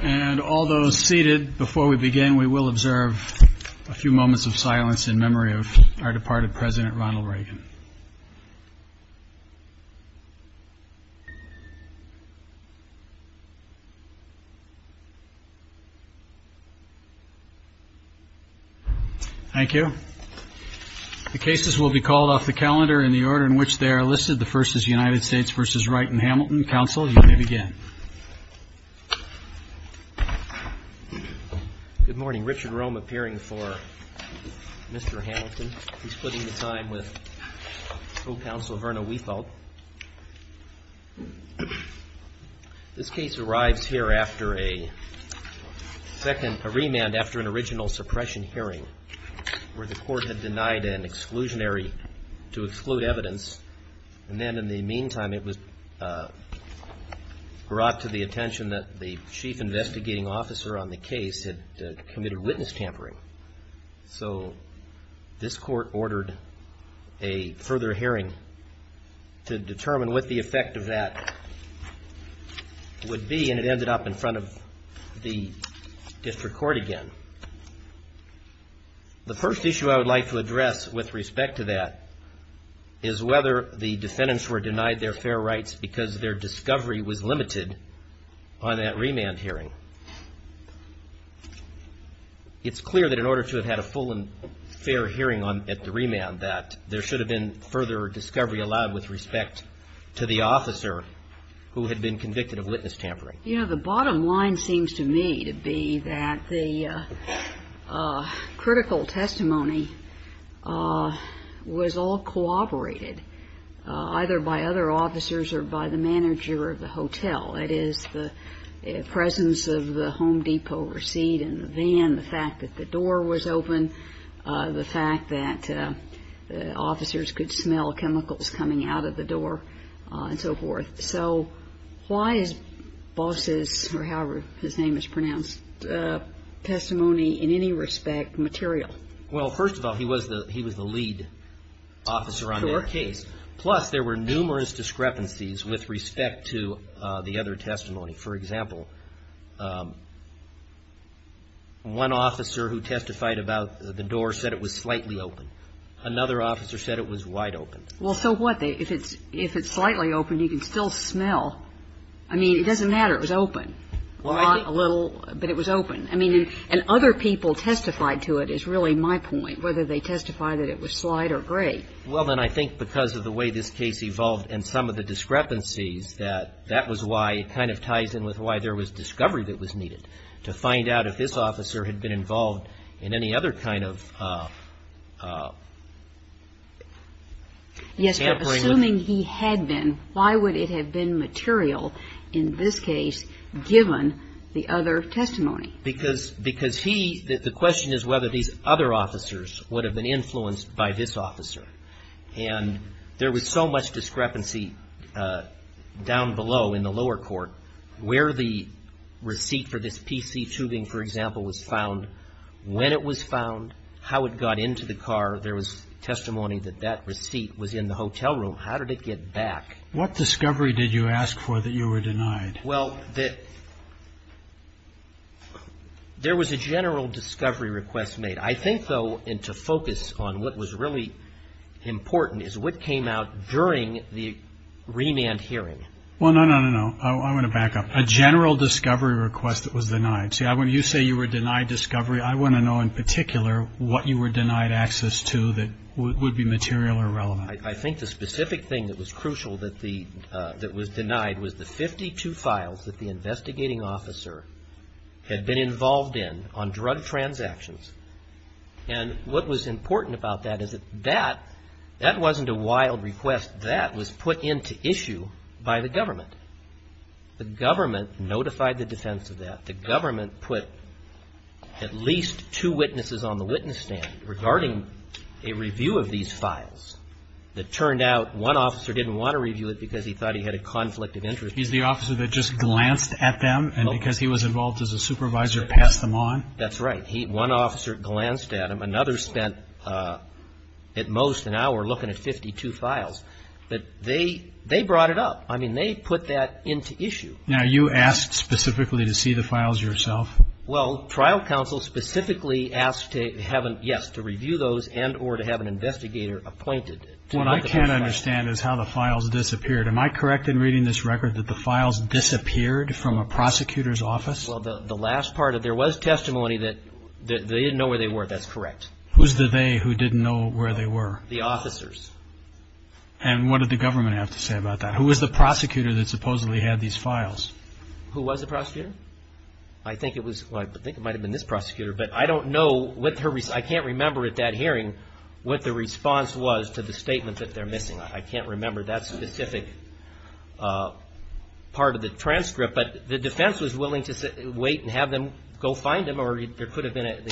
And all those seated, before we begin, we will observe a few moments of silence in memory of our departed President Ronald Reagan. Thank you. The cases will be called off the calendar in the order in which they are listed. The first is United States v. Wright and Hamilton. Counsel, you may begin. Good morning. Richard Rome appearing for Mr. Hamilton. He's splitting the time with Co-Counsel Verna Weithalt. This case arrives here after a second, a remand after an original suppression hearing where the Court had denied an exclusionary to exclude evidence. And then in the meantime, it was brought to the attention that the Chief Investigating Officer on the case had committed witness tampering. So this Court ordered a further hearing to determine what the effect of that would be, and it ended up in front of the District Court again. The first issue I would like to address with respect to that is whether the defendants were denied their fair rights because their discovery was limited on that remand hearing. It's clear that in order to have had a full and fair hearing at the remand, that there should have been further discovery allowed with respect to the officer who had been convicted of witness tampering. You know, the bottom line seems to me to be that the critical testimony was all cooperated either by other officers or by the manager of the hotel. It is the presence of the Home Depot receipt and the van, the fact that the door was open, the fact that officers could smell chemicals coming out of the door, and so forth. So why is Boss's, or however his name is pronounced, testimony in any respect material? Well, first of all, he was the lead officer on that case. Plus, there were numerous discrepancies with respect to the other testimony. For example, one officer who testified about the door said it was slightly open. Another officer said it was wide open. Well, so what? If it's slightly open, you can still smell. I mean, it doesn't matter. It was open. A little, but it was open. I mean, and other people testified to it, is really my point, whether they testified that it was slight or great. Well, then I think because of the way this case evolved and some of the discrepancies, that that was why it kind of ties in with why there was discovery that was needed, to find out if this officer had been involved in any other kind of sampling. Yes, but assuming he had been, why would it have been material in this case given the other testimony? Because he, the question is whether these other officers would have been influenced by this officer. And there was so much discrepancy down below in the lower court where the receipt for this PC tubing, for example, was found, when it was found, how it got into the car. There was testimony that that receipt was in the hotel room. How did it get back? What discovery did you ask for that you were denied? Well, there was a general discovery request made. I think, though, and to focus on what was really important, is what came out during the remand hearing. Well, no, no, no, no. I want to back up. A general discovery request that was denied. See, when you say you were denied discovery, I want to know in particular what you were denied access to that would be material or relevant. I think the specific thing that was crucial that was denied was the 52 files that the investigating officer had been involved in on drug transactions. And what was important about that is that that wasn't a wild request. That was put into issue by the government. The government notified the defense of that. The government put at least two witnesses on the witness stand regarding a review of these files. It turned out one officer didn't want to review it because he thought he had a conflict of interest. He's the officer that just glanced at them, and because he was involved as a supervisor, passed them on? That's right. One officer glanced at them. Another spent at most an hour looking at 52 files. But they brought it up. I mean, they put that into issue. Now, you asked specifically to see the files yourself? Well, trial counsel specifically asked, yes, to review those and or to have an investigator appointed. What I can't understand is how the files disappeared. Am I correct in reading this record that the files disappeared from a prosecutor's office? Well, the last part of it, there was testimony that they didn't know where they were. That's correct. Who's the they who didn't know where they were? The officers. And what did the government have to say about that? Who was the prosecutor that supposedly had these files? Who was the prosecutor? I think it was, I think it might have been this prosecutor. But I don't know, I can't remember at that hearing what the response was to the statement that they're missing. I can't remember that specific part of the transcript. But the defense was willing to wait and have them go find them, or the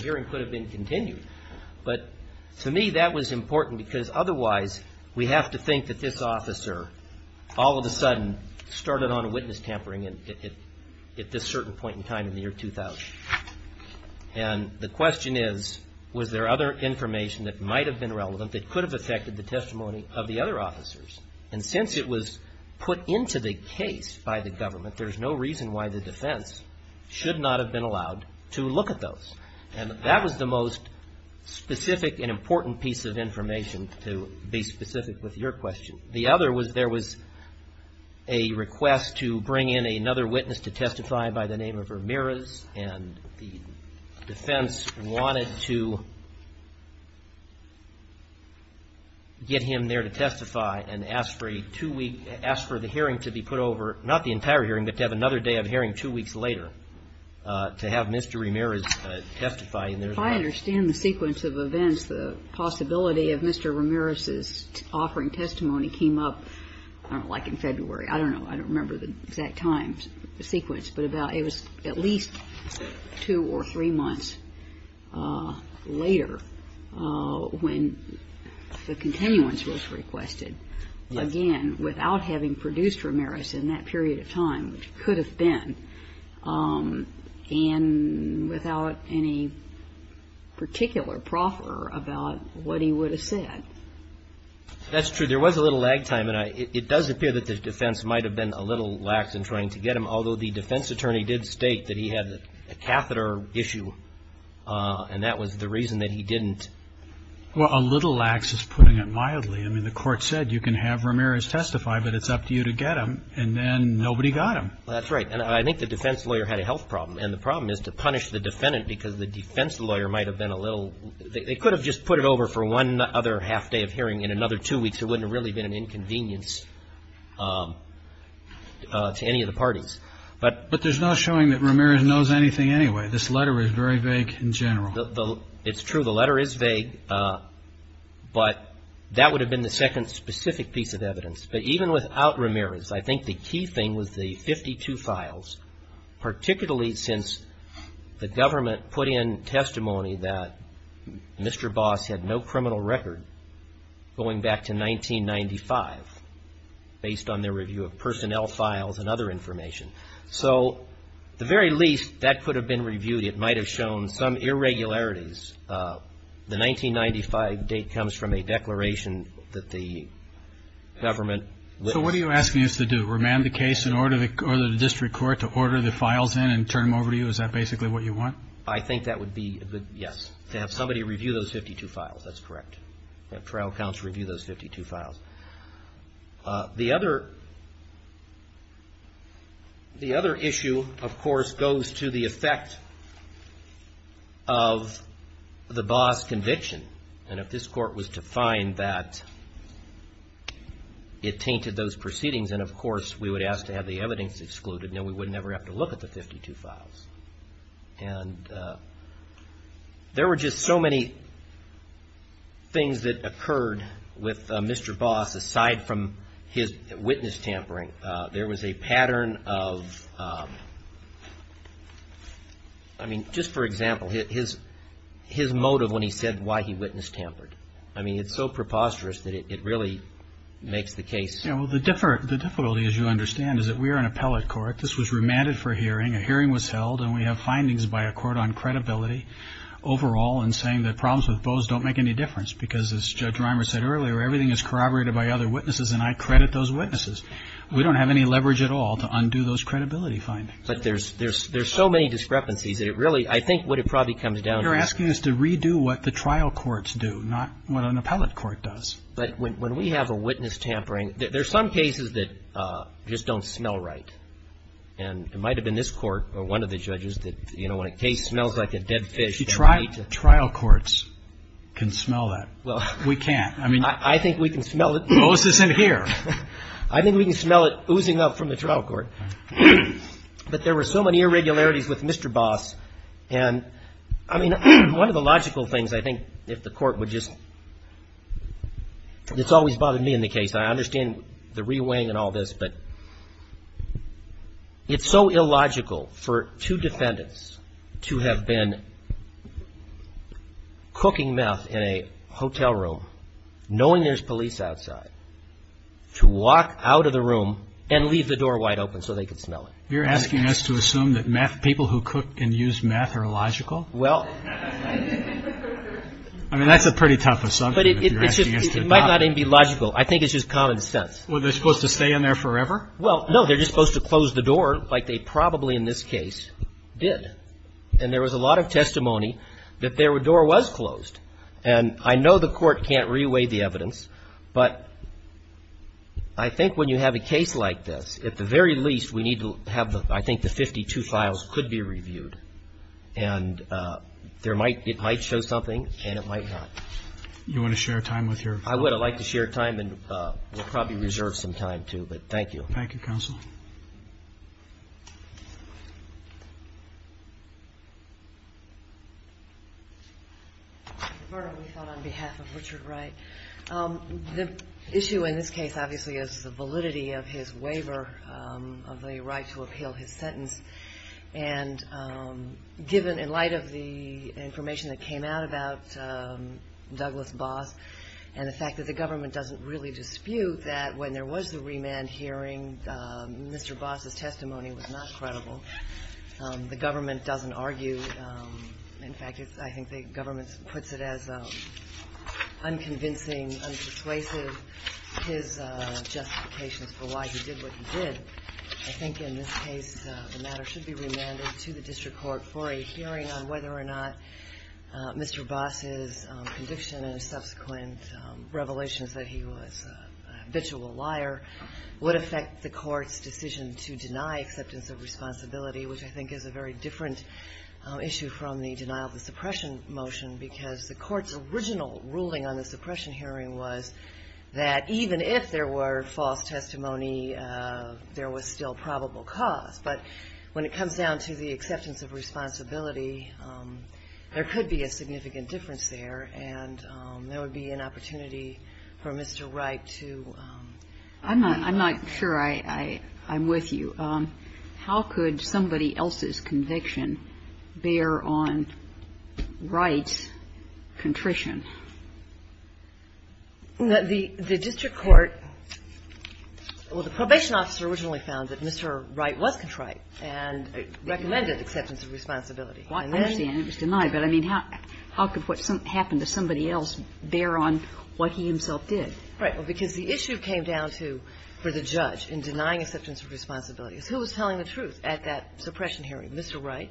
hearing could have been continued. But to me that was important because otherwise we have to think that this officer all of a sudden started on witness tampering at this certain point in time in the year 2000. And the question is, was there other information that might have been relevant that could have affected the testimony of the other officers? And since it was put into the case by the government, there's no reason why the defense should not have been allowed to look at those. And that was the most specific and important piece of information to be specific with your question. The other was there was a request to bring in another witness to testify by the name of Ramirez, and the defense wanted to get him there to testify and ask for a two-week, ask for the hearing to be put over, not the entire hearing, but to have another day of hearing two weeks later to have Mr. Ramirez testify. If I understand the sequence of events, the possibility of Mr. Ramirez's offering testimony came up, I don't know, like in February. I don't know. I don't remember the exact time sequence, but it was at least two or three months later when the continuance was requested. Again, without having produced Ramirez in that period of time, which could have been, and without any particular proffer about what he would have said. That's true. There was a little lag time, and it does appear that the defense might have been a little lax in trying to get him, although the defense attorney did state that he had a catheter issue, and that was the reason that he didn't. Well, a little lax is putting it mildly. I mean, the court said you can have Ramirez testify, but it's up to you to get him, and then nobody got him. That's right, and I think the defense lawyer had a health problem, and the problem is to punish the defendant because the defense lawyer might have been a little, they could have just put it over for one other half day of hearing in another two weeks. It wouldn't have really been an inconvenience to any of the parties. But there's no showing that Ramirez knows anything anyway. This letter is very vague in general. It's true. The letter is vague, but that would have been the second specific piece of evidence. But even without Ramirez, I think the key thing was the 52 files, particularly since the government put in testimony that Mr. Boss had no criminal record going back to 1995, based on their review of personnel files and other information. So at the very least, that could have been reviewed. It might have shown some irregularities. The 1995 date comes from a declaration that the government. So what are you asking us to do? Remand the case in order for the district court to order the files in and turn them over to you? Is that basically what you want? I think that would be, yes, to have somebody review those 52 files. That's correct. Have trial counsel review those 52 files. The other issue, of course, goes to the effect of the Boss conviction. And if this court was to find that, it tainted those proceedings. And, of course, we would ask to have the evidence excluded. Then we would never have to look at the 52 files. And there were just so many things that occurred with Mr. Boss aside from his witness tampering. There was a pattern of, I mean, just for example, his motive when he said why he witnessed tampered. I mean, it's so preposterous that it really makes the case. Yeah, well, the difficulty, as you understand, is that we are an appellate court. This was remanded for hearing. A hearing was held, and we have findings by a court on credibility overall and saying that problems with Boss don't make any difference because, as Judge Reimer said earlier, everything is corroborated by other witnesses, and I credit those witnesses. We don't have any leverage at all to undo those credibility findings. But there's so many discrepancies that it really, I think what it probably comes down to is. You're asking us to redo what the trial courts do, not what an appellate court does. But when we have a witness tampering, there are some cases that just don't smell right. And it might have been this court or one of the judges that, you know, when a case smells like a dead fish. Trial courts can smell that. We can't. I mean. I think we can smell it. Moses in here. I think we can smell it oozing up from the trial court. But there were so many irregularities with Mr. Boss. And, I mean, one of the logical things, I think, if the court would just. It's always bothered me in the case. I understand the reweighing and all this, but it's so illogical for two defendants to have been cooking meth in a hotel room, knowing there's police outside, to walk out of the room and leave the door wide open so they could smell it. You're asking us to assume that people who cook and use meth are illogical? Well. I mean, that's a pretty tough assumption. But it might not even be logical. I think it's just common sense. Were they supposed to stay in there forever? Well, no. They're just supposed to close the door like they probably in this case did. And there was a lot of testimony that their door was closed. And I know the court can't reweigh the evidence. But I think when you have a case like this, at the very least, we need to have, I think, the 52 files could be reviewed. And it might show something and it might not. You want to share time with your. I would. I'd like to share time. And we'll probably reserve some time, too. But thank you. Thank you, Counsel. Bernard Liefeld on behalf of Richard Wright. The issue in this case, obviously, is the validity of his waiver of the right to appeal his sentence. And given, in light of the information that came out about Douglas Boss, and the fact that the government doesn't really dispute that when there was the remand hearing, Mr. Boss's testimony was not credible. The government doesn't argue. In fact, I think the government puts it as unconvincing, his justifications for why he did what he did. I think in this case, the matter should be remanded to the district court for a hearing on whether or not Mr. Boss's conviction and subsequent revelations that he was a habitual liar would affect the court's decision to deny acceptance of responsibility, which I think is a very different issue from the denial of the suppression motion, because the court's original ruling on the suppression hearing was that even if there were false testimony, there was still probable cause. But when it comes down to the acceptance of responsibility, there could be a significant difference there, and there would be an opportunity for Mr. Wright to be. I'm not sure I'm with you. How could somebody else's conviction bear on Wright's contrition? The district court or the probation officer originally found that Mr. Wright was contrite and recommended acceptance of responsibility. I understand it was denied, but I mean, how could what happened to somebody else bear on what he himself did? Right, because the issue came down to, for the judge, in denying acceptance of responsibility, is who was telling the truth at that suppression hearing, Mr. Wright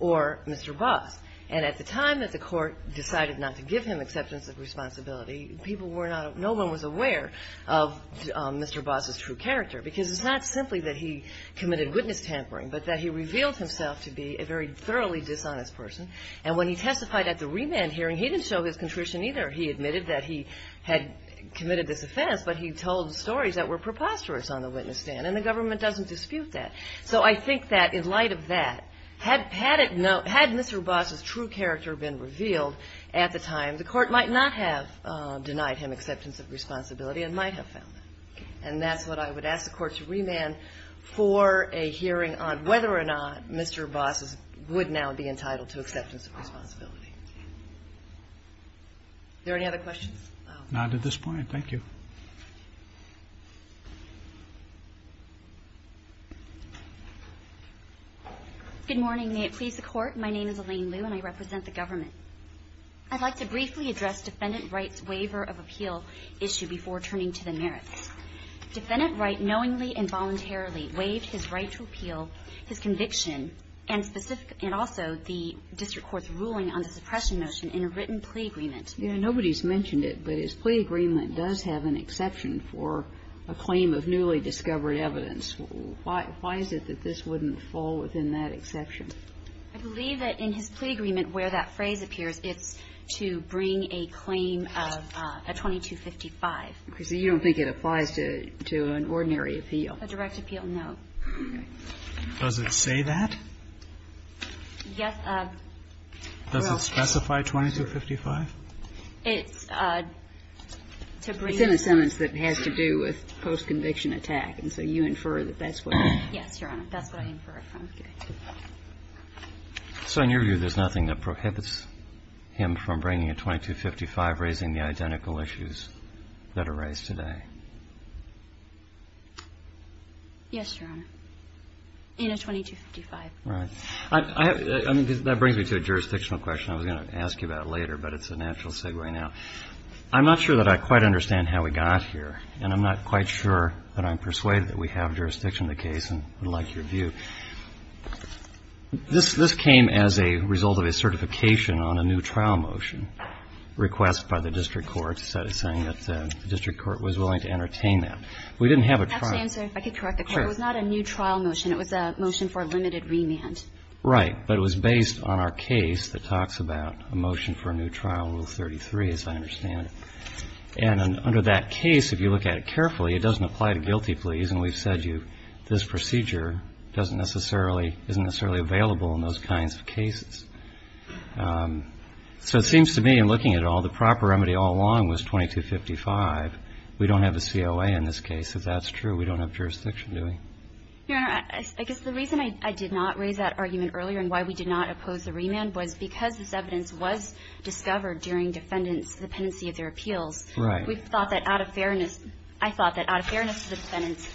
or Mr. Boss. And at the time that the court decided not to give him acceptance of responsibility, people were not – no one was aware of Mr. Boss's true character, because it's not simply that he committed witness tampering, but that he revealed himself to be a very thoroughly dishonest person. And when he testified at the remand hearing, he didn't show his contrition either. He admitted that he had committed this offense, but he told stories that were preposterous on the witness stand, and the government doesn't dispute that. So I think that in light of that, had Mr. Boss's true character been revealed at the time, the court might not have denied him acceptance of responsibility and might have found that. And that's what I would ask the court to remand for a hearing on whether or not Mr. Boss would now be entitled to acceptance of responsibility. Is there any other questions? None at this point. Thank you. Good morning. May it please the Court. My name is Elaine Liu, and I represent the government. I'd like to briefly address Defendant Wright's waiver of appeal issue before turning to the merits. Defendant Wright knowingly and voluntarily waived his right to appeal, his conviction, and also the district court's ruling on the suppression motion in a written plea agreement. Nobody's mentioned it, but his plea agreement does have an exception for a claim of newly discovered evidence. Why is it that this wouldn't fall within that exception? I believe that in his plea agreement where that phrase appears, it's to bring a claim of a 2255. So you don't think it applies to an ordinary appeal? A direct appeal, no. Okay. Does it say that? Yes. Does it specify 2255? It's to bring a sentence that has to do with post-conviction attack. And so you infer that that's what it is. Yes, Your Honor. That's what I infer it from. Okay. So in your view, there's nothing that prohibits him from bringing a 2255, raising the identical issues that are raised today? Yes, Your Honor. In a 2255. Right. I mean, that brings me to a jurisdictional question I was going to ask you about later, but it's a natural segue now. I'm not sure that I quite understand how we got here, and I'm not quite sure that I'm persuaded that we have jurisdiction in the case and would like your view. This came as a result of a certification on a new trial motion request by the district court saying that the district court was willing to entertain that. We didn't have a trial. I have to answer. I could correct the question. It was not a new trial motion. It was a motion for a limited remand. Right. But it was based on our case that talks about a motion for a new trial, Rule 33, as I understand it. And under that case, if you look at it carefully, it doesn't apply to guilty pleas, and we've said this procedure doesn't necessarily, isn't necessarily available in those kinds of cases. So it seems to me in looking at it all, the proper remedy all along was 2255. We don't have a COA in this case, if that's true. We don't have jurisdiction, do we? Your Honor, I guess the reason I did not raise that argument earlier and why we did not oppose the remand was because this evidence was discovered during defendants' dependency of their appeals. Right. We thought that out of fairness, I thought that out of fairness to the defendants,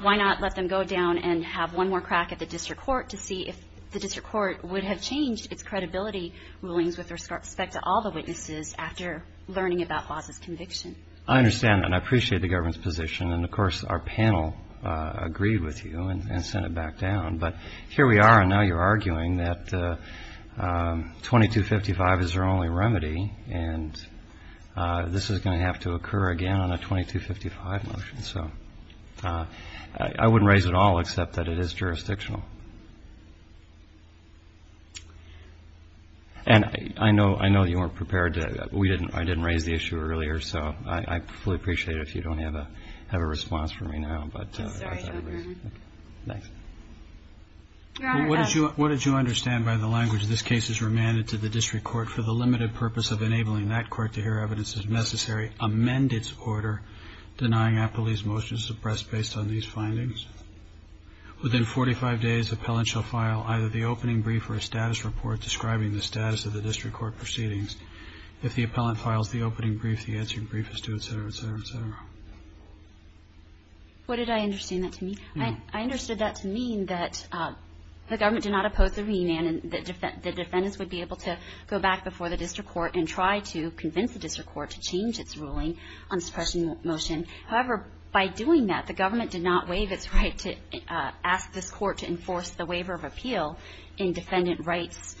why not let them go down and have one more crack at the district court to see if the district court would have changed its credibility rulings with respect to all the witnesses after learning about Foss's conviction? I understand that. I appreciate the government's position. And, of course, our panel agreed with you and sent it back down. But here we are, and now you're arguing that 2255 is their only remedy, and this is going to have to occur again on a 2255 motion. So I wouldn't raise it at all except that it is jurisdictional. And I know you weren't prepared to – I didn't raise the issue earlier, so I fully appreciate it if you don't have a response for me now. I'm sorry, Your Honor. Thanks. Your Honor. What did you understand by the language, this case is remanded to the district court for the limited purpose of enabling that court to hear evidence as necessary, amend its order, denying appellee's motion suppressed based on these findings? Within 45 days, appellant shall file either the opening brief or a status report describing the status of the district court proceedings. If the appellant files the opening brief, the answering brief is due, et cetera, et cetera, et cetera. What did I understand that to mean? I understood that to mean that the government did not oppose the remand and the defendants would be able to go back before the district court and try to convince the district court to change its ruling on suppression motion. However, by doing that, the government did not waive its right to ask this court to enforce the waiver of appeal in defendant rights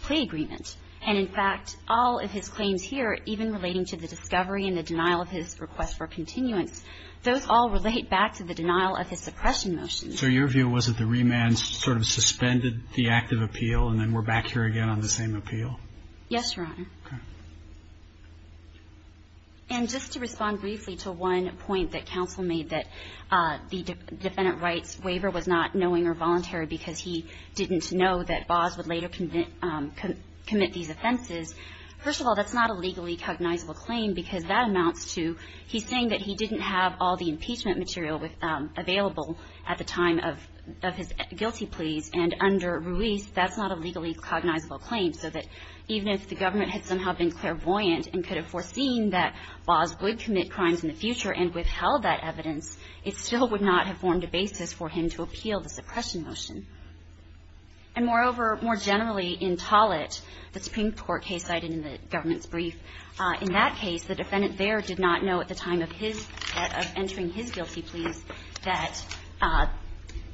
plea agreement. And, in fact, all of his claims here, even relating to the discovery and the denial of his request for continuance, those all relate back to the denial of his suppression motion. So your view was that the remand sort of suspended the act of appeal and then we're back here again on the same appeal? Yes, Your Honor. Okay. And just to respond briefly to one point that counsel made, that the defendant rights waiver was not knowing or voluntary because he didn't know that Baas would later commit these offenses, first of all, that's not a legally cognizable claim because that amounts to he's saying that he didn't have all the impeachment material available at the time of his guilty pleas. And under Ruiz, that's not a legally cognizable claim, so that even if the government had somehow been clairvoyant and could have foreseen that Baas would commit crimes in the future and withheld that evidence, it still would not have formed a basis for him to appeal the suppression motion. And, moreover, more generally, in Tollett, the Supreme Court case cited in the government's brief, in that case the defendant there did not know at the time of his, of entering his guilty pleas, that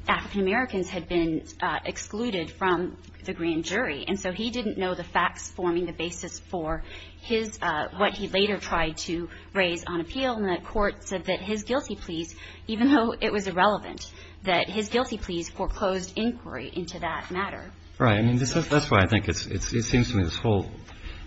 African Americans had been excluded from the grand jury. And so he didn't know the facts forming the basis for his, what he later tried to raise on appeal. And, therefore, in Tollett, And, therefore, in Tollett, the government court said that his guilty pleas, even though it was irrelevant, that his guilty pleas foreclosed inquiry into that matter. Right. I mean, that's why I think it's, it seems to me this whole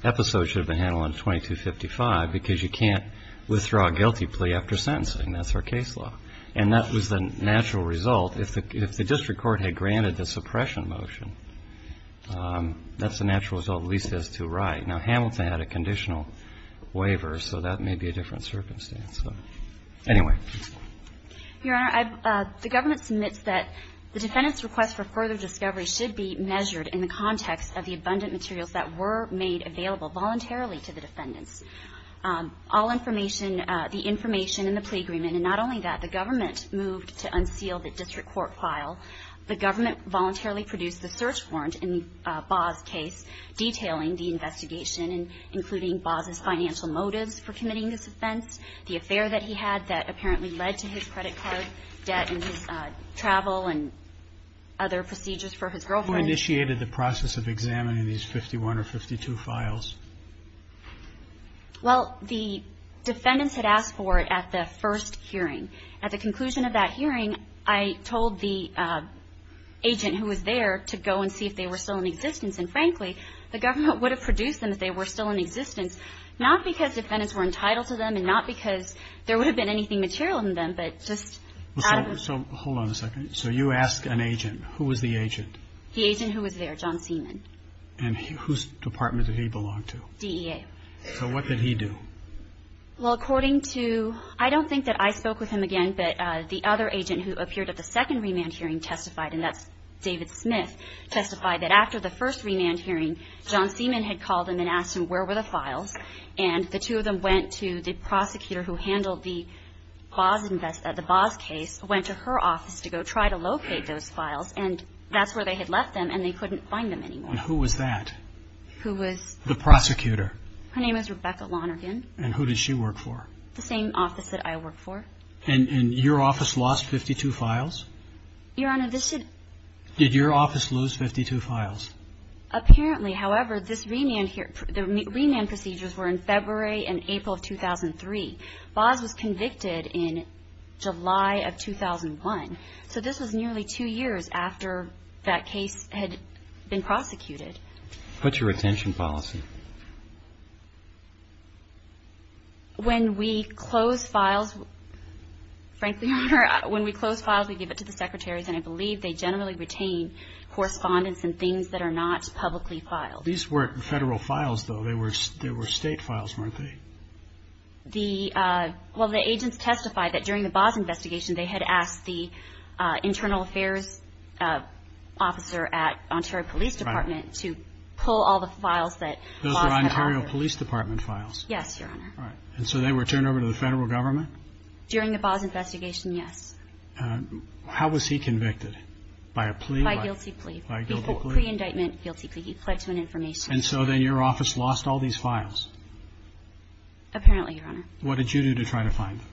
episode should have been handled on 2255 because you can't withdraw a guilty plea after sentencing. That's our case law. And that was the natural result. If the district court had granted the suppression motion, that's the natural result, at least as to right. Now, Hamilton had a conditional waiver, so that may be a different circumstance. Anyway. Your Honor, the government submits that the defendant's request for further discovery should be measured in the context of the abundant materials that were made available voluntarily to the defendants. All information, the information in the plea agreement, And not only that, the government moved to unseal the district court file. The government voluntarily produced the search warrant in Baugh's case, detailing the investigation, including Baugh's financial motives for committing this offense, the affair that he had that apparently led to his credit card debt and his travel and other procedures for his girlfriend. Who initiated the process of examining these 51 or 52 files? Well, the defendants had asked for it at the first hearing. At the conclusion of that hearing, I told the agent who was there to go and see if they were still in existence. And frankly, the government would have produced them if they were still in existence, not because defendants were entitled to them and not because there would have been anything material in them, but just out of the So hold on a second. So you ask an agent, who was the agent? And whose department did he belong to? DEA. So what did he do? Well, according to, I don't think that I spoke with him again, but the other agent who appeared at the second remand hearing testified, and that's David Smith, testified that after the first remand hearing, John Seaman had called him and asked him where were the files, and the two of them went to the prosecutor who handled the Baugh's case, went to her office to go try to locate those files, and that's where they had left them, and they couldn't find them anymore. And who was that? Who was? The prosecutor. Her name is Rebecca Lonergan. And who did she work for? The same office that I work for. And your office lost 52 files? Your Honor, this should Did your office lose 52 files? Apparently, however, this remand, the remand procedures were in February and April of 2003. Baugh's was convicted in July of 2001. So this was nearly two years after that case had been prosecuted. What's your retention policy? When we close files, frankly, Your Honor, when we close files, we give it to the secretaries, and I believe they generally retain correspondence and things that are not publicly filed. These weren't federal files, though. They were state files, weren't they? Well, the agents testified that during the Baugh's investigation, they had asked the internal affairs officer at Ontario Police Department to pull all the files that Baugh's had offered. Those were Ontario Police Department files? Yes, Your Honor. And so they were turned over to the federal government? During the Baugh's investigation, yes. How was he convicted? By a plea? By guilty plea. By guilty plea? Pre-indictment guilty plea. He pled to an information. And so then your office lost all these files? Apparently, Your Honor. What did you do to try to find them?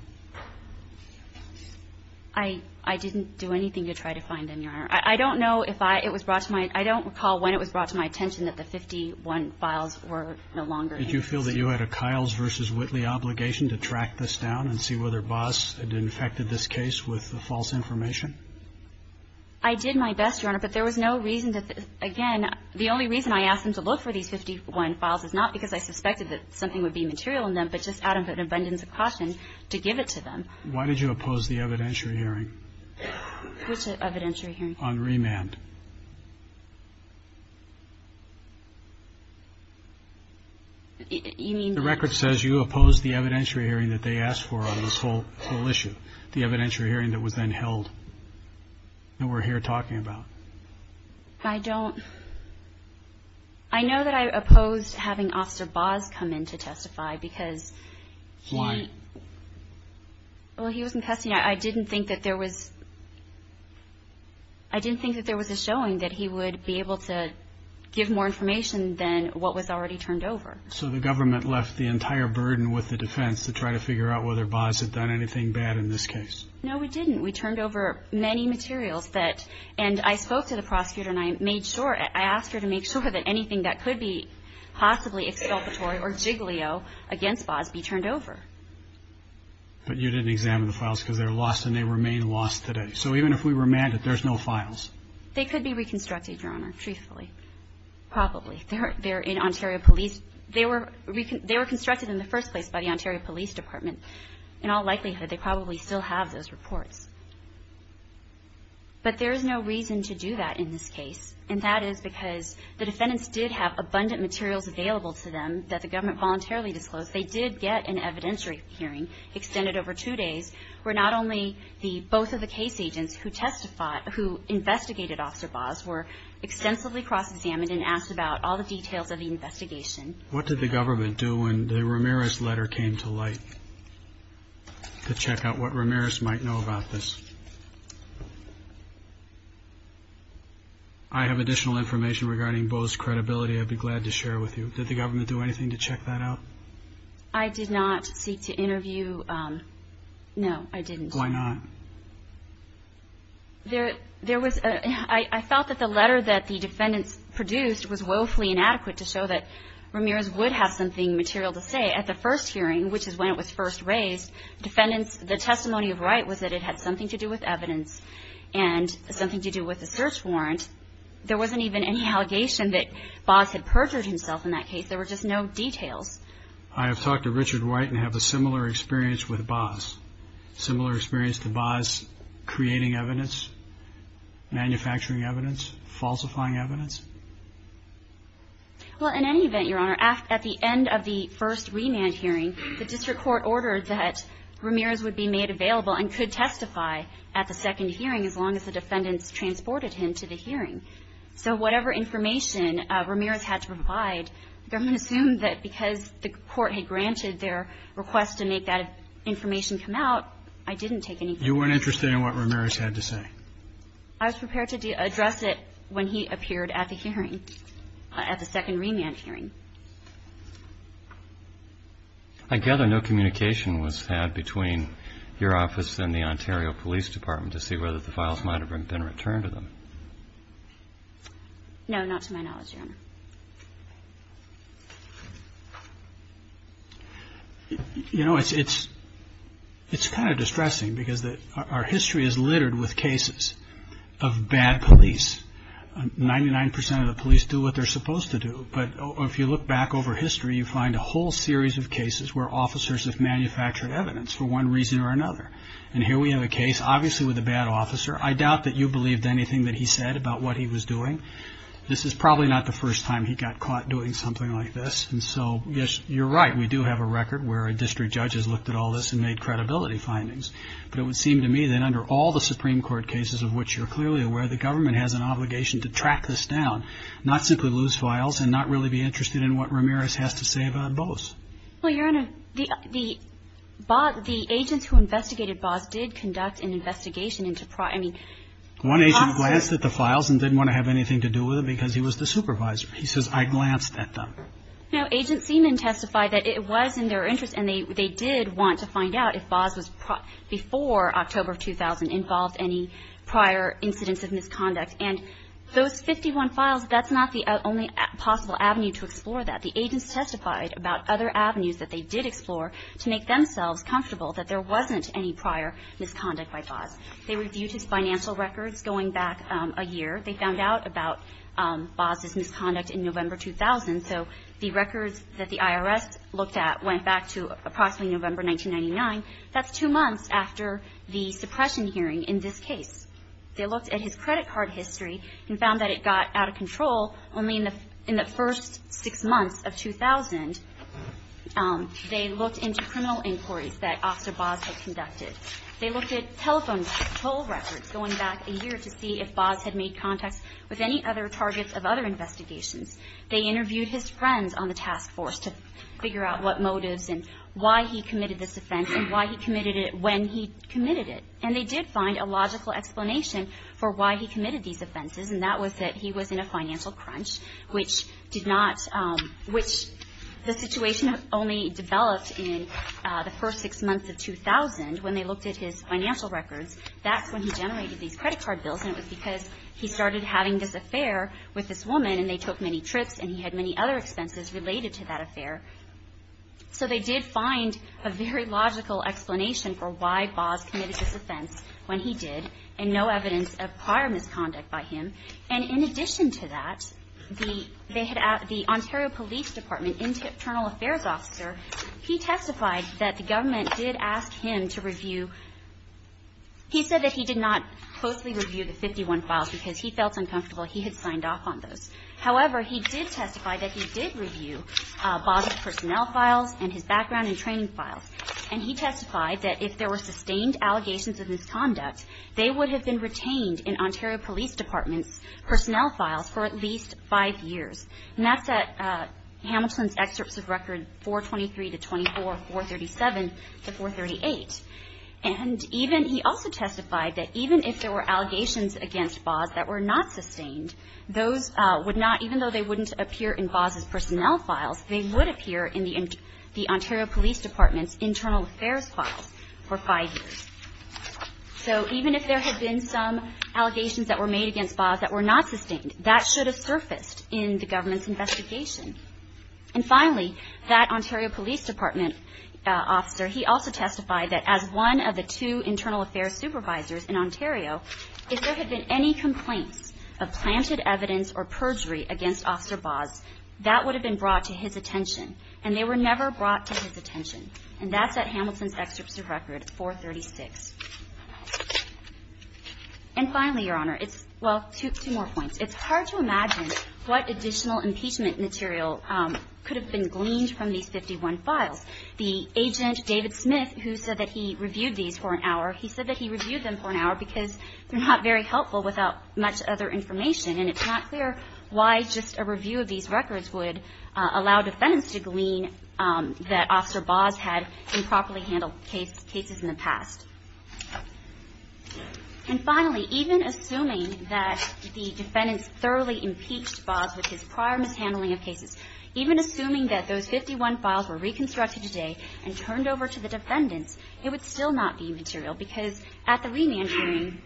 I didn't do anything to try to find them, Your Honor. I don't know if I – it was brought to my – I don't recall when it was brought to my attention that the 51 files were no longer in use. Did you feel that you had a Kyles v. Whitley obligation to track this down and see whether Baugh's had infected this case with the false information? I did my best, Your Honor, but there was no reason to – again, the only reason I asked them to look for these 51 files is not because I suspected that something would be material in them, but just out of an abundance of caution to give it to them. Why did you oppose the evidentiary hearing? Which evidentiary hearing? On remand. You mean that – The record says you opposed the evidentiary hearing that they asked for on this whole issue, the evidentiary hearing that was then held and we're here talking about. I don't – I know that I opposed having Officer Baugh's come in to testify because he – Why? Well, he was in custody and I didn't think that there was – I didn't think that there was a showing that he would be able to give more information than what was already turned over. So the government left the entire burden with the defense to try to figure out whether Baugh's had done anything bad in this case? No, we didn't. We turned over many materials that – and I spoke to the prosecutor and I made sure – I asked her to make sure that anything that could be possibly exculpatory or jiggly-o against Baugh's be turned over. But you didn't examine the files because they were lost and they remain lost today. So even if we remanded, there's no files? They could be reconstructed, Your Honor, truthfully. Probably. They're in Ontario Police – they were reconstructed in the first place by the Ontario Police Department. In all likelihood, they probably still have those reports. But there is no reason to do that in this case, and that is because the defendants did have abundant materials available to them that the government voluntarily disclosed. They did get an evidentiary hearing extended over two days where not only the – both of the case agents who testified – who investigated Officer Baugh's were extensively cross-examined and asked about all the details of the investigation. What did the government do when the Ramirez letter came to light to check out what Ramirez might know about this? I have additional information regarding Baugh's credibility I'd be glad to share with you. Did the government do anything to check that out? I did not seek to interview – no, I didn't. Why not? There was – I felt that the letter that the defendants produced was woefully inadequate to show that Ramirez would have something material to say. At the first hearing, which is when it was first raised, defendants – the testimony of Wright was that it had something to do with evidence and something to do with the search warrant. There wasn't even any allegation that Baugh's had perjured himself in that case. There were just no details. I have talked to Richard Wright and have a similar experience with Baugh's – similar experience to Baugh's creating evidence, manufacturing evidence, falsifying evidence. Well, in any event, Your Honor, at the end of the first remand hearing, the district court ordered that Ramirez would be made available and could testify at the second hearing as long as the defendants transported him to the hearing. So whatever information Ramirez had to provide, the government assumed that because the court had granted their request to make that information come out, I didn't take anything. You weren't interested in what Ramirez had to say. I was prepared to address it when he appeared at the hearing – at the second remand hearing. I gather no communication was had between your office and the Ontario Police Department to see whether the files might have been returned to them. You know, it's kind of distressing because our history is littered with cases of bad police. Ninety-nine percent of the police do what they're supposed to do. But if you look back over history, you find a whole series of cases where officers have manufactured evidence for one reason or another. And here we have a case, obviously, with a bad officer. I doubt that you believed anything that he said about what he was doing. This is probably not the first time he's done this. You know, he got caught doing something like this. And so, yes, you're right, we do have a record where a district judge has looked at all this and made credibility findings. But it would seem to me that under all the Supreme Court cases of which you're clearly aware, the government has an obligation to track this down, not simply lose files and not really be interested in what Ramirez has to say about Boas. Well, Your Honor, the agents who investigated Boas did conduct an investigation into – I mean – One agent glanced at the files and didn't want to have anything to do with it because he was the supervisor. He says, I glanced at them. No. Agent Seaman testified that it was in their interest and they did want to find out if Boas was – before October of 2000 involved any prior incidents of misconduct. And those 51 files, that's not the only possible avenue to explore that. The agents testified about other avenues that they did explore to make themselves comfortable that there wasn't any prior misconduct by Boas. They reviewed his financial records going back a year. They found out about Boas' misconduct in November 2000. So the records that the IRS looked at went back to approximately November 1999. That's two months after the suppression hearing in this case. They looked at his credit card history and found that it got out of control only in the first six months of 2000. They looked into criminal inquiries that Officer Boas had conducted. They looked at telephone toll records going back a year to see if Boas had made contacts with any other targets of other investigations. They interviewed his friends on the task force to figure out what motives and why he committed this offense and why he committed it when he committed it. And they did find a logical explanation for why he committed these offenses, and that was that he was in a financial crunch, which did not – which the situation only developed in the first six months of 2000 when they looked at his financial records. That's when he generated these credit card bills, and it was because he started having this affair with this woman, and they took many trips, and he had many other expenses related to that affair. So they did find a very logical explanation for why Boas committed this offense when he did, and no evidence of prior misconduct by him. And in addition to that, the Ontario Police Department Internal Affairs Officer, he testified that the government did ask him to review – he said that he did not closely review the 51 files because he felt uncomfortable he had signed off on those. However, he did testify that he did review Boas' personnel files and his background and training files, and he testified that if there were sustained allegations of misconduct, they would have been retained in Ontario Police Department's personnel files for at least five years. And that's at Hamilton's excerpts of record 423 to 24, 437 to 438. And even – he also testified that even if there were allegations against Boas that were not sustained, those would not – even though they wouldn't appear in Boas' personnel files, they would appear in the Ontario Police Department's internal affairs files for five years. So even if there had been some allegations that were made against Boas that were not sustained, that should have surfaced in the government's investigation. And finally, that Ontario Police Department officer, he also testified that as one of the two internal affairs supervisors in Ontario, if there had been any complaints of planted evidence or perjury against Officer Boas, that would have been brought to his attention, and they were never brought to his attention. And that's at Hamilton's excerpts of record 436. And finally, Your Honor, it's – well, two more points. It's hard to imagine what additional impeachment material could have been gleaned from these 51 files. The agent, David Smith, who said that he reviewed these for an hour, he said that he reviewed them for an hour because they're not very helpful without much other information, and it's not clear why just a review of these records would allow defendants to glean that Officer Boas had improperly handled cases in the past. And finally, even assuming that the defendants thoroughly impeached Boas with his prior mishandling of cases, even assuming that those 51 files were reconstructed today and turned over to the defendants, it would still not be material because at the remand hearing,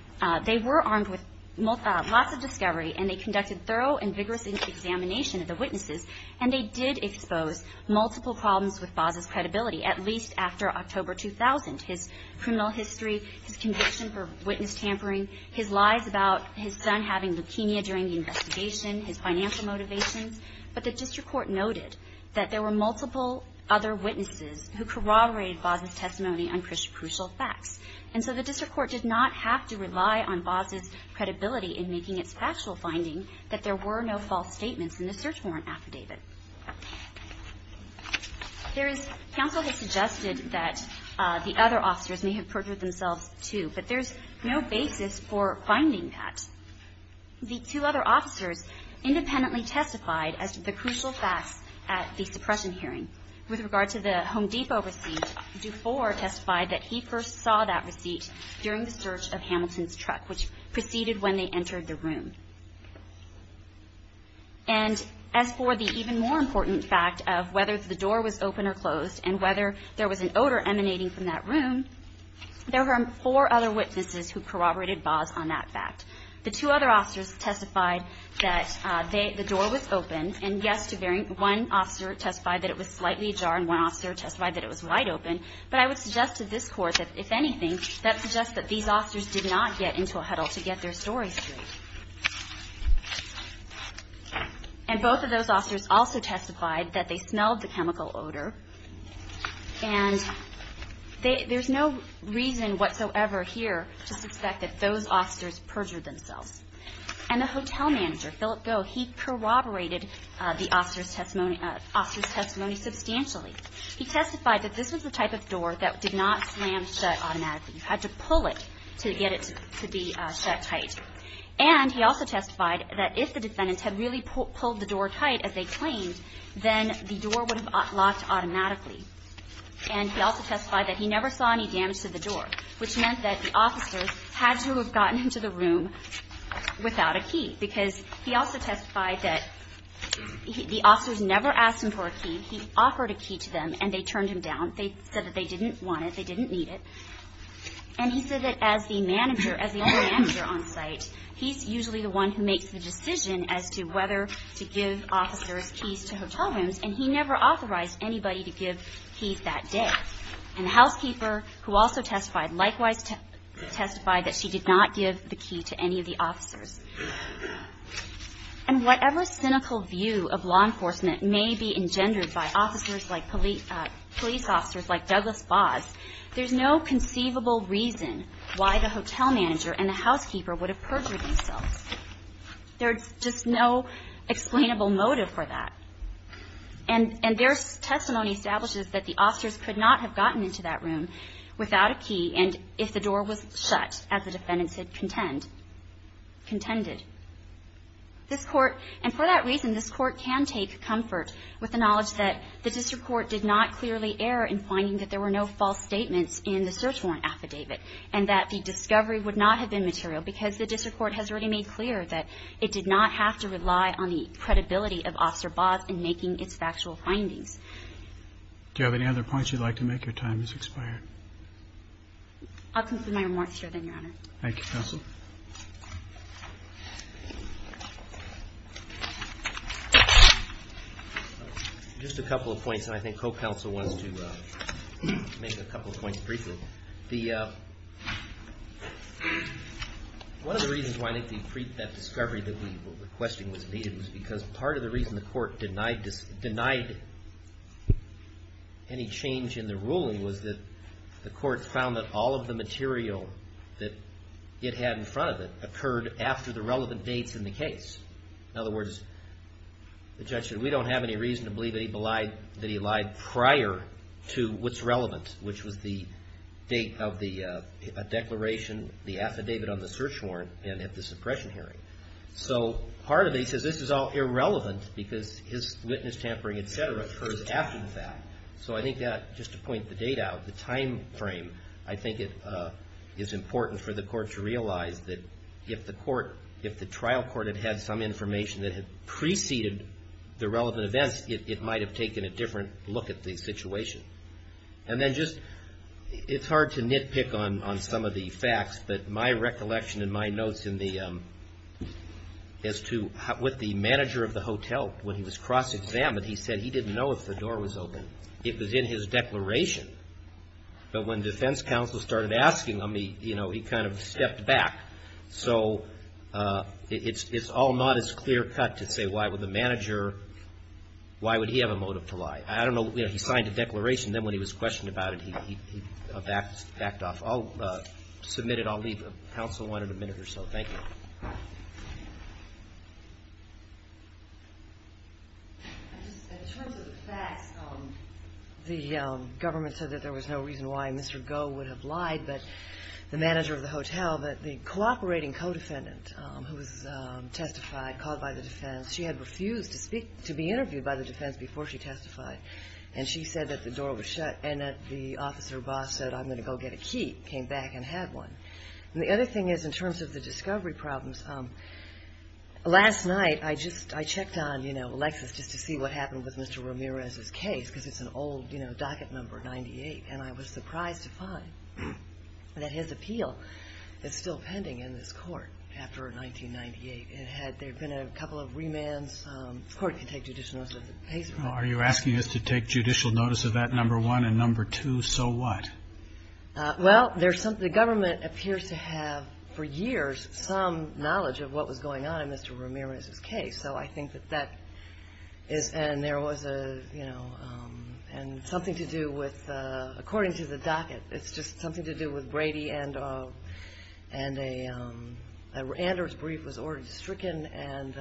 they were armed with lots of discovery, and they conducted thorough and vigorous examination of the witnesses, and they did expose multiple problems with Boas's credibility, at least after October 2000, his criminal history, his conviction for witness tampering, his lies about his son having leukemia during the investigation, his financial motivations. But the district court noted that there were multiple other witnesses who corroborated Boas's testimony on crucial facts, and so the district court did not have to rely on Boas's credibility in making its factual finding that there were no false statements in the search warrant affidavit. There is – counsel has suggested that the other officers may have perjured themselves, too, but there's no basis for finding that. The two other officers independently testified as to the crucial facts at the suppression hearing. With regard to the Home Depot receipt, Dufour testified that he first saw that receipt which proceeded when they entered the room. And as for the even more important fact of whether the door was open or closed and whether there was an odor emanating from that room, there were four other witnesses who corroborated Boas on that fact. The two other officers testified that the door was open, and yes, one officer testified that it was slightly ajar, and one officer testified that it was wide open, but I would suggest to this court that, if anything, that suggests that these officers did not get into a huddle to get their stories straight. And both of those officers also testified that they smelled the chemical odor, and there's no reason whatsoever here to suspect that those officers perjured themselves. And the hotel manager, Philip Goh, he corroborated the officers' testimony substantially. He testified that this was the type of door that did not slam shut automatically. You had to pull it to get it to be shut tight. And he also testified that if the defendants had really pulled the door tight, as they claimed, then the door would have locked automatically. And he also testified that he never saw any damage to the door, which meant that the officers had to have gotten into the room without a key, because he also testified that the officers never asked him for a key. He offered a key to them, and they turned him down. They said that they didn't want it. They didn't need it. And he said that as the manager, as the only manager on site, he's usually the one who makes the decision as to whether to give officers keys to hotel rooms, and he never authorized anybody to give keys that day. And the housekeeper, who also testified, likewise testified that she did not give the key to any of the officers. And whatever cynical view of law enforcement may be engendered by police officers like Douglas Baas, there's no conceivable reason why the hotel manager and the housekeeper would have perjured themselves. There's just no explainable motive for that. And their testimony establishes that the officers could not have gotten into that room without a key, and if the door was shut, as the defendants had contended. This Court, and for that reason, this Court can take comfort with the knowledge that the district court did not clearly err in finding that there were no false statements in the search warrant affidavit, and that the discovery would not have been material because the district court has already made clear that it did not have to rely on the credibility of Officer Baas in making its factual findings. Do you have any other points you'd like to make or time has expired? I'll conclude my remarks here then, Your Honor. Thank you, Counsel. Just a couple of points, and I think Co-Counsel wants to make a couple of points briefly. One of the reasons why I think that discovery that we were requesting was needed was because part of the reason the Court denied any change in the ruling was that the Court found that all of the material that it had in the affidavit that it had in front of it occurred after the relevant dates in the case. In other words, the judge said, we don't have any reason to believe that he lied prior to what's relevant, which was the date of the declaration, the affidavit on the search warrant, and at the suppression hearing. So part of it, he says, this is all irrelevant because his witness tampering, et cetera, occurs after the fact. So I think that, just to point the date out, the time frame, I think it is important for the Court to realize that if the trial court had had some information that had preceded the relevant events, it might have taken a different look at the situation. And then just, it's hard to nitpick on some of the facts, but my recollection in my notes in the, as to what the manager of the hotel, when he was cross-examined, he said he didn't know if the door was open. It was in his declaration. But when defense counsel started asking him, he kind of stepped back. So it's all not as clear-cut to say, why would the manager, why would he have a motive to lie? I don't know, he signed a declaration, then when he was questioned about it, he backed off. I'll submit it. Counsel wanted a minute or so. Thank you. In terms of the facts, the government said that there was no reason why Mr. Goh would have lied, but the manager of the hotel, that the cooperating co-defendant who was testified, called by the defense, she had refused to speak, to be interviewed by the defense before she testified. And she said that the door was shut, and that the officer boss said, I'm going to go get a key, came back and had one. And the other thing is, in terms of the discovery problems, last night I checked on Alexis just to see what happened with Mr. Ramirez's case, because it's an old docket number, 98. And I was surprised to find that his appeal is still pending in this court after 1998. There have been a couple of remands. The court can take judicial notice of the case. Are you asking us to take judicial notice of that number one and number two? So what? Well, the government appears to have, for years, some knowledge of what was going on in Mr. Ramirez's case. So I think that that is, and there was a, you know, and something to do with, according to the docket, it's just something to do with Brady, and a Anders brief was ordered to stricken, and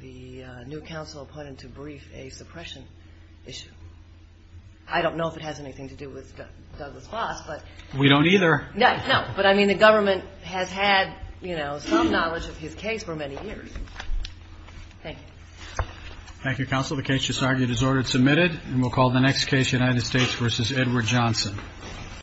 the new counsel put into brief a suppression issue. I don't know if it has anything to do with Douglas Foss, but. We don't either. No, but, I mean, the government has had, you know, some knowledge of his case for many years. Thank you. Thank you, counsel. The case just argued is ordered submitted, and we'll call the next case United States v. Edward Johnson.